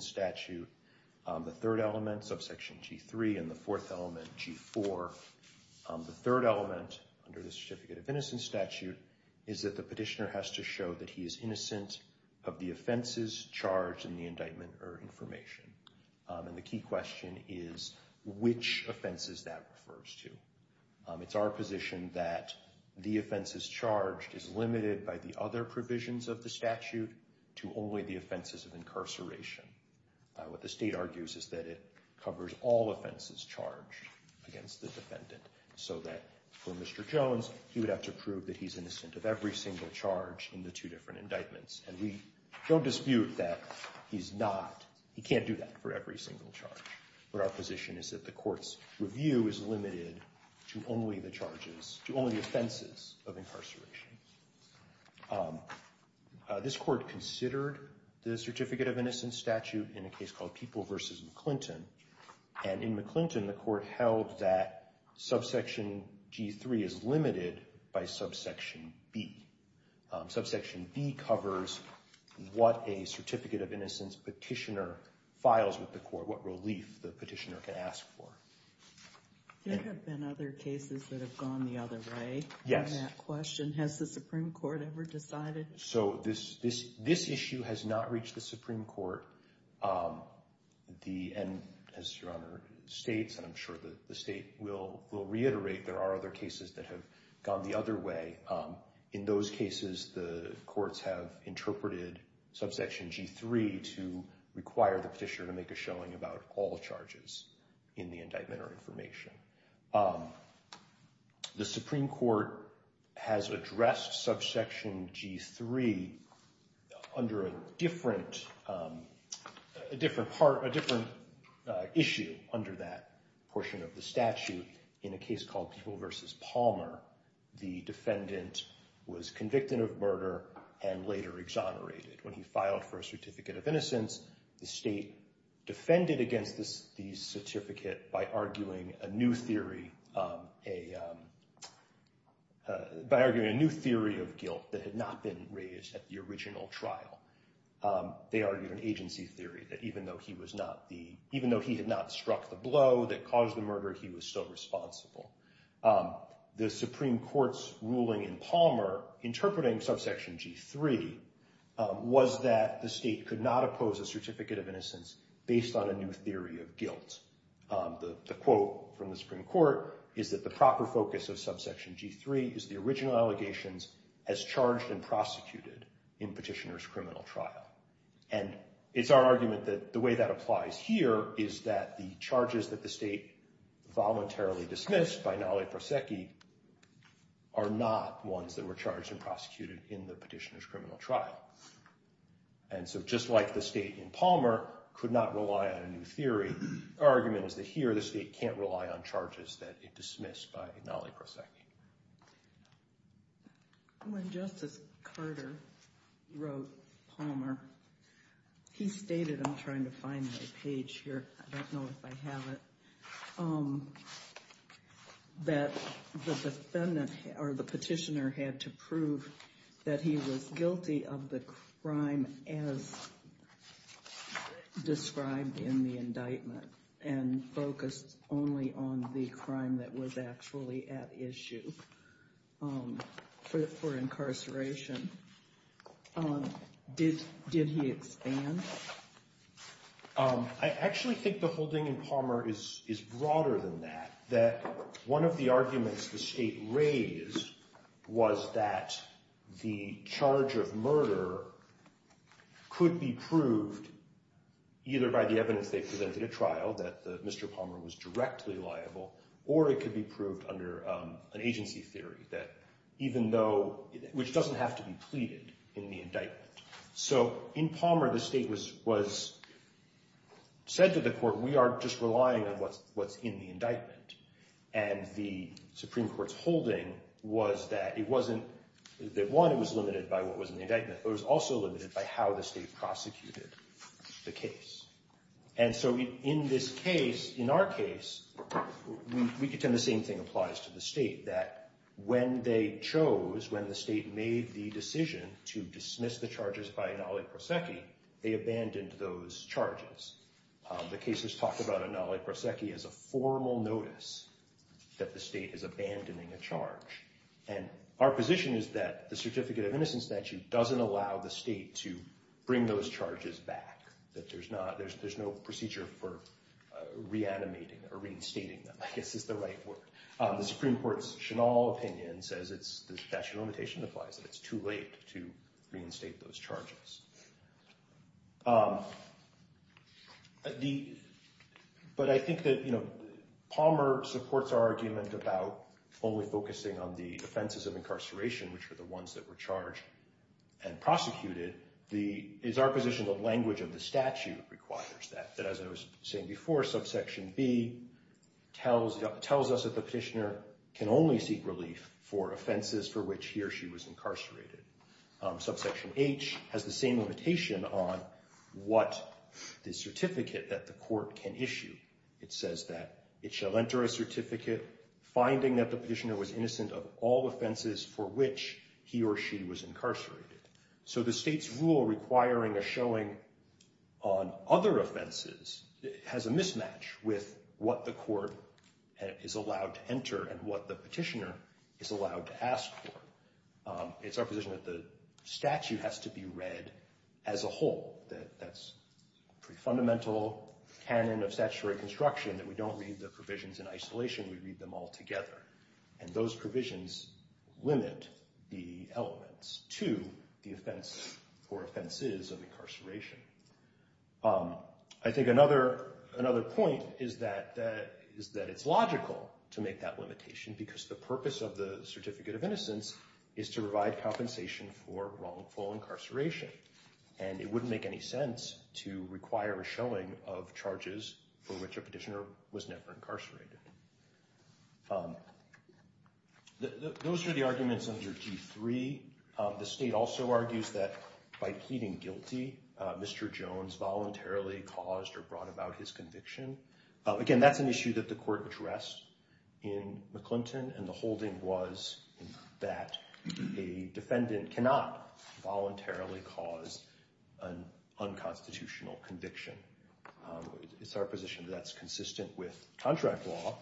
Statute, the third element, subsection G3, and the fourth element, G4. The third element under the Certificate of Innocence Statute is that the petitioner has to show that he is innocent of the offenses charged in the indictment or information. And the key question is which offenses that refers to. It's our position that the offenses charged is limited by the other provisions of the statute. What the state argues is that it covers all offenses charged against the defendant, so that for Mr. Jones, he would have to prove that he's innocent of every single charge in the two different indictments. And we don't dispute that he's not, he can't do that for every single charge. But our position is that the court's review is limited to only the charges, to only the offenses of incarceration. This court considered the Certificate of Innocence Statute in a case called People v. McClinton. And in McClinton, the court held that subsection G3 is limited by subsection B. Subsection B covers what a Certificate of Innocence petitioner files with the court, what relief the petitioner can ask for. There have been other cases that have gone the other way. Yes. That question, has the Supreme Court ever decided? So this issue has not reached the Supreme Court. And as Your Honor states, and I'm sure that the state will reiterate, there are other cases that have gone the other way. In those cases, the courts have interpreted subsection G3 to require the petitioner to make a showing about all charges in the indictment or information. The different issue under that portion of the statute in a case called People v. Palmer, the defendant was convicted of murder and later exonerated. When he filed for a Certificate of Innocence, the state defended against the certificate by arguing a new theory of guilt that had not been raised at the original trial. They argued an agency theory that even though he was not the, even though he had not struck the blow that caused the murder, he was still responsible. The Supreme Court's ruling in Palmer, interpreting subsection G3, was that the state could not oppose a Certificate of Innocence based on a new theory of guilt. The quote from the Supreme Court is that the proper focus of subsection G3 is the original allegations as charged and prosecuted in petitioner's criminal trial. And it's our argument that the way that applies here is that the charges that the state voluntarily dismissed by Nalai Proseki are not ones that were charged and prosecuted in the petitioner's criminal trial. And so just like the state in Palmer could not rely on a new theory, our argument is that here the state can't rely on charges that it dismissed by Nalai Proseki. When Justice Carter wrote Palmer, he stated, I'm trying to find my page here, I don't know if I have it, that the petitioner had to prove that he was guilty of the crime as described in the indictment and focused only on the crime that was actually at issue. For incarceration. Did he expand? I actually think the holding in Palmer is broader than that, that one of the arguments the state raised was that the charge of murder could be proved either by the evidence they presented at trial, that Mr. Palmer was directly liable, or it could be proved under an agency theory, which doesn't have to be pleaded in the indictment. So in Palmer, the state was said to the court, we are just relying on what's in the indictment. And the Supreme Court's holding was that it wasn't that one, it was limited by what was in the indictment, but it was also limited by how the state prosecuted the case. And so in this case, in our case, we contend the same thing applies to the state, that when they chose, when the state made the decision to dismiss the charges by Nalai Proseki, they abandoned those charges. The case was talked about in Nalai Proseki as a formal notice that the state is abandoning a charge. And our position is that the Certificate of Innocence statute doesn't allow the state to bring those charges back, that there's no procedure for reanimating or reinstating them, I guess is the right word. The Supreme Court's Chenal opinion says it's, the statute of limitation implies that it's too late to reinstate those charges. But I think that Palmer supports our argument about only focusing on the offenses of incarceration, which were the ones that were charged and prosecuted. It's our position that language of the statute requires that, that as I was saying before, subsection B tells us that the petitioner can only seek relief for offenses for which he or she was incarcerated. Subsection H has the same limitation on what the certificate that the court can issue. It says that it shall enter a certificate finding that the petitioner was innocent of all offenses for which he or she was incarcerated. So the state's rule requiring a showing on other offenses has a mismatch with what the court is allowed to enter and what the petitioner is allowed to ask for. It's our position that the statute has to be read as a whole. That's a pretty fundamental canon of statutory construction, that we don't read the provisions in isolation, we read them all together. And those provisions limit the elements to the offense or offenses of incarceration. I think another point is that it's logical to make that limitation because the purpose of the certificate of innocence is to provide compensation for wrongful incarceration. And it wouldn't make any sense to require a showing of charges for which a petitioner was never incarcerated. Those are the arguments under G3. The state also argues that by pleading guilty, Mr. Jones voluntarily caused or brought about his conviction. Again, that's an issue that the court addressed in McClinton, and the holding was that a defendant cannot voluntarily cause an unconstitutional conviction. It's our position that that's consistent with contract law,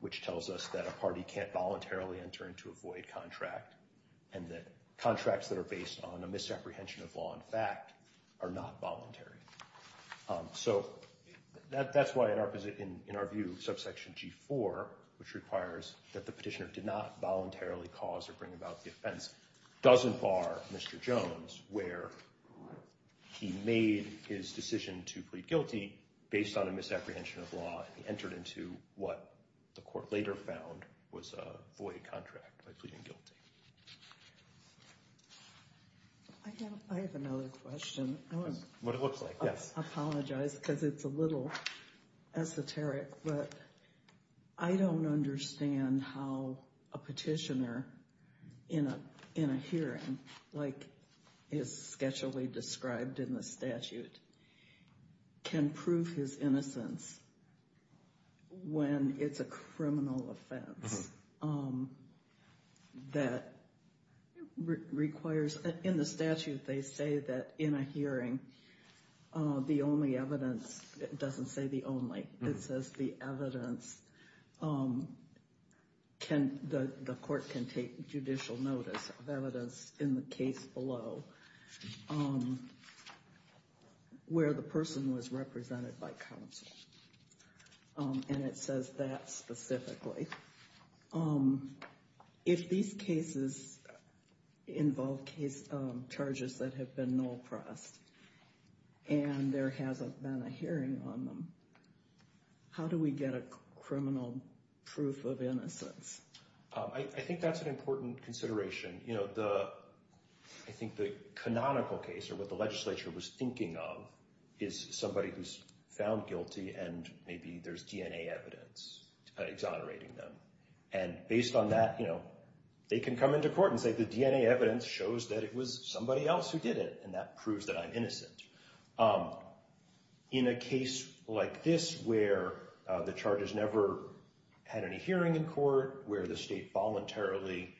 which tells us that a party can't voluntarily enter into a void contract, and that contracts that are based on a misapprehension of law and fact are not voluntary. So that's why, in our view, subsection G4, which requires that the petitioner did not voluntarily cause or bring about the offense, doesn't bar Mr. Jones where he made his decision to plead guilty based on a misapprehension of law and entered into what the court later found was a void contract by pleading guilty. I have another question. What it looks like, yes. I apologize because it's a little esoteric, but I don't understand how a petitioner in a hearing, like is sketchily described in the statute, can prove his innocence when it's a criminal offense that requires, in the statute they say that in a hearing, the only evidence, it doesn't say the only, it says the evidence, the court can take judicial notice of evidence in the case below where the person was represented by counsel. And it says that specifically. If these cases involve charges that have been null pressed and there hasn't been a hearing on them, how do we get a criminal proof of innocence? I think that's an important consideration. I think the canonical case or what the legislature was thinking of is somebody who's found guilty and maybe there's DNA evidence exonerating them. And based on that, they can come into court and say the DNA evidence shows that it was somebody else who did it In a case like this where the charges never had any hearing in court, where the state voluntarily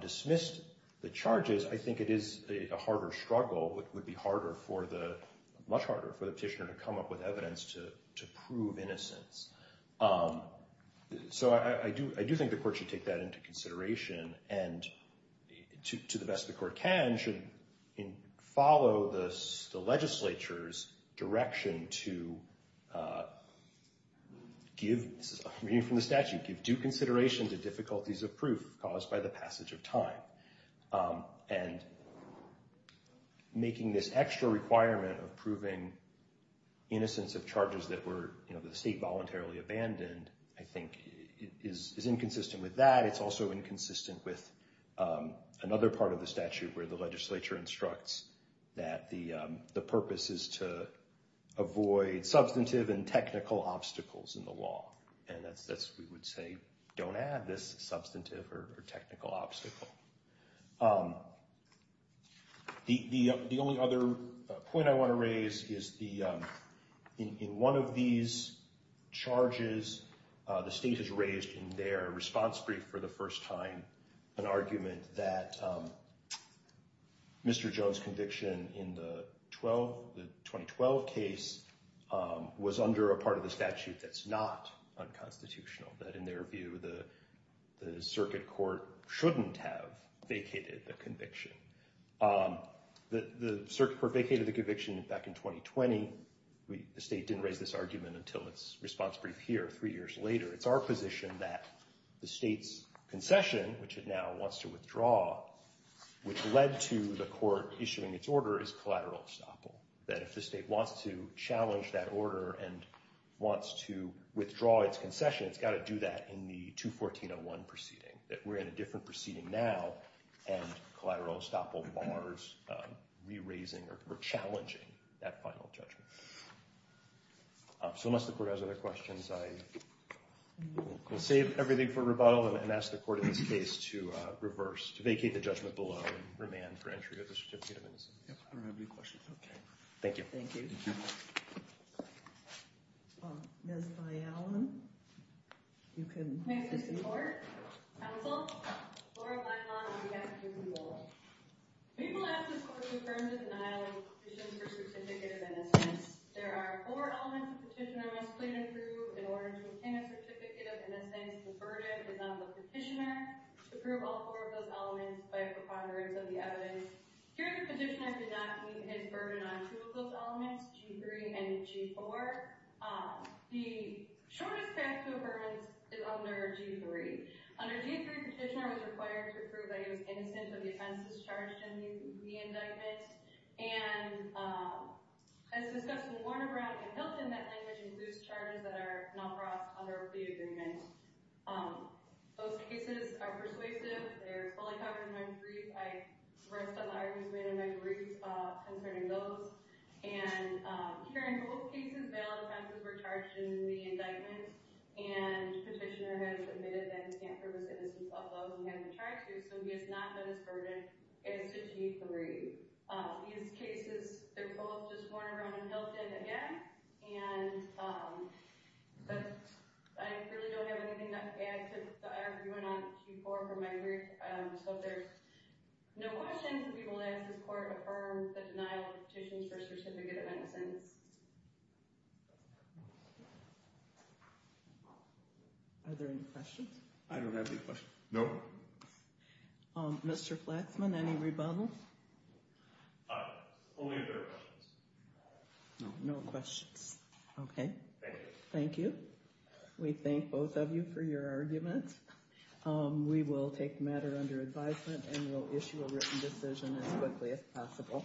dismissed the charges, I think it is a harder struggle. It would be much harder for the petitioner to come up with evidence to prove innocence. So I do think the court should take that into consideration. And to the best the court can, should follow the legislature's direction to give due consideration to difficulties of proof caused by the passage of time. And making this extra requirement of proving innocence of charges that the state voluntarily abandoned, I think is inconsistent with that. It's also inconsistent with another part of the statute where the legislature instructs that the purpose is to avoid substantive and technical obstacles in the law. And we would say don't add this substantive or technical obstacle. The only other point I want to raise is in one of these charges, the state has raised in their response brief for the first time, an argument that Mr. Jones conviction in the 2012 case was under a part of the statute that's not unconstitutional. That in their view, the circuit court shouldn't have vacated the conviction. The circuit court vacated the conviction back in 2020. The state didn't raise this argument until its response brief here three years later. It's our position that the state's concession, which it now wants to withdraw, which led to the court issuing its order, is collateral obstacle. That if the state wants to challenge that order and wants to withdraw its concession, it's got to do that in the 214-01 proceeding. That we're in a different proceeding now and collateral obstacle bars re-raising or challenging that final judgment. So unless the court has other questions, I will save everything for rebuttal and ask the court in this case to reverse, to vacate the judgment below and remand for entry of the certificate of innocence. I don't have any questions. OK. Thank you. Thank you. Ms. Allen, you can assist me. Thank you, Mr. Court, counsel, Laura Blackmon, and D.F. Cukunwole. We will ask this court to confirm the denial of the petition for certificate of innocence. There are four elements a petitioner must plead and prove in order to obtain a certificate of innocence. The verdict is on the petitioner to prove all four of those elements by a preponderance of the evidence. Here, the petitioner did not meet his verdict on two of those elements, G3 and G4. The shortest path to a verdict is under G3. Under G3, the petitioner was required to prove that he was innocent, but the offense is charged in the indictment. And as discussed in Warner Brown and Hilton, that language includes charges that are not brought under the agreement. Those cases are persuasive. They're fully covered in 9-3. I rest on the arguments made in my brief concerning those. And here in both cases, male offenses were charged in the indictment, and petitioner has admitted that he can't prove his innocence although he has a charge here, so he has not met his verdict as to G3. These cases, they're both just Warner Brown and Hilton, again. And I really don't have anything to add to the argument on G4 from my brief. So if there's no questions, we will ask this court to affirm the denial of the petition for certificate of innocence. Are there any questions? I don't have any questions. No. Mr. Flaxman, any rebuttals? Only if there are questions. No questions. Okay. Thank you. We thank both of you for your arguments. We will take the matter under advisement and we'll issue a written decision as quickly as possible.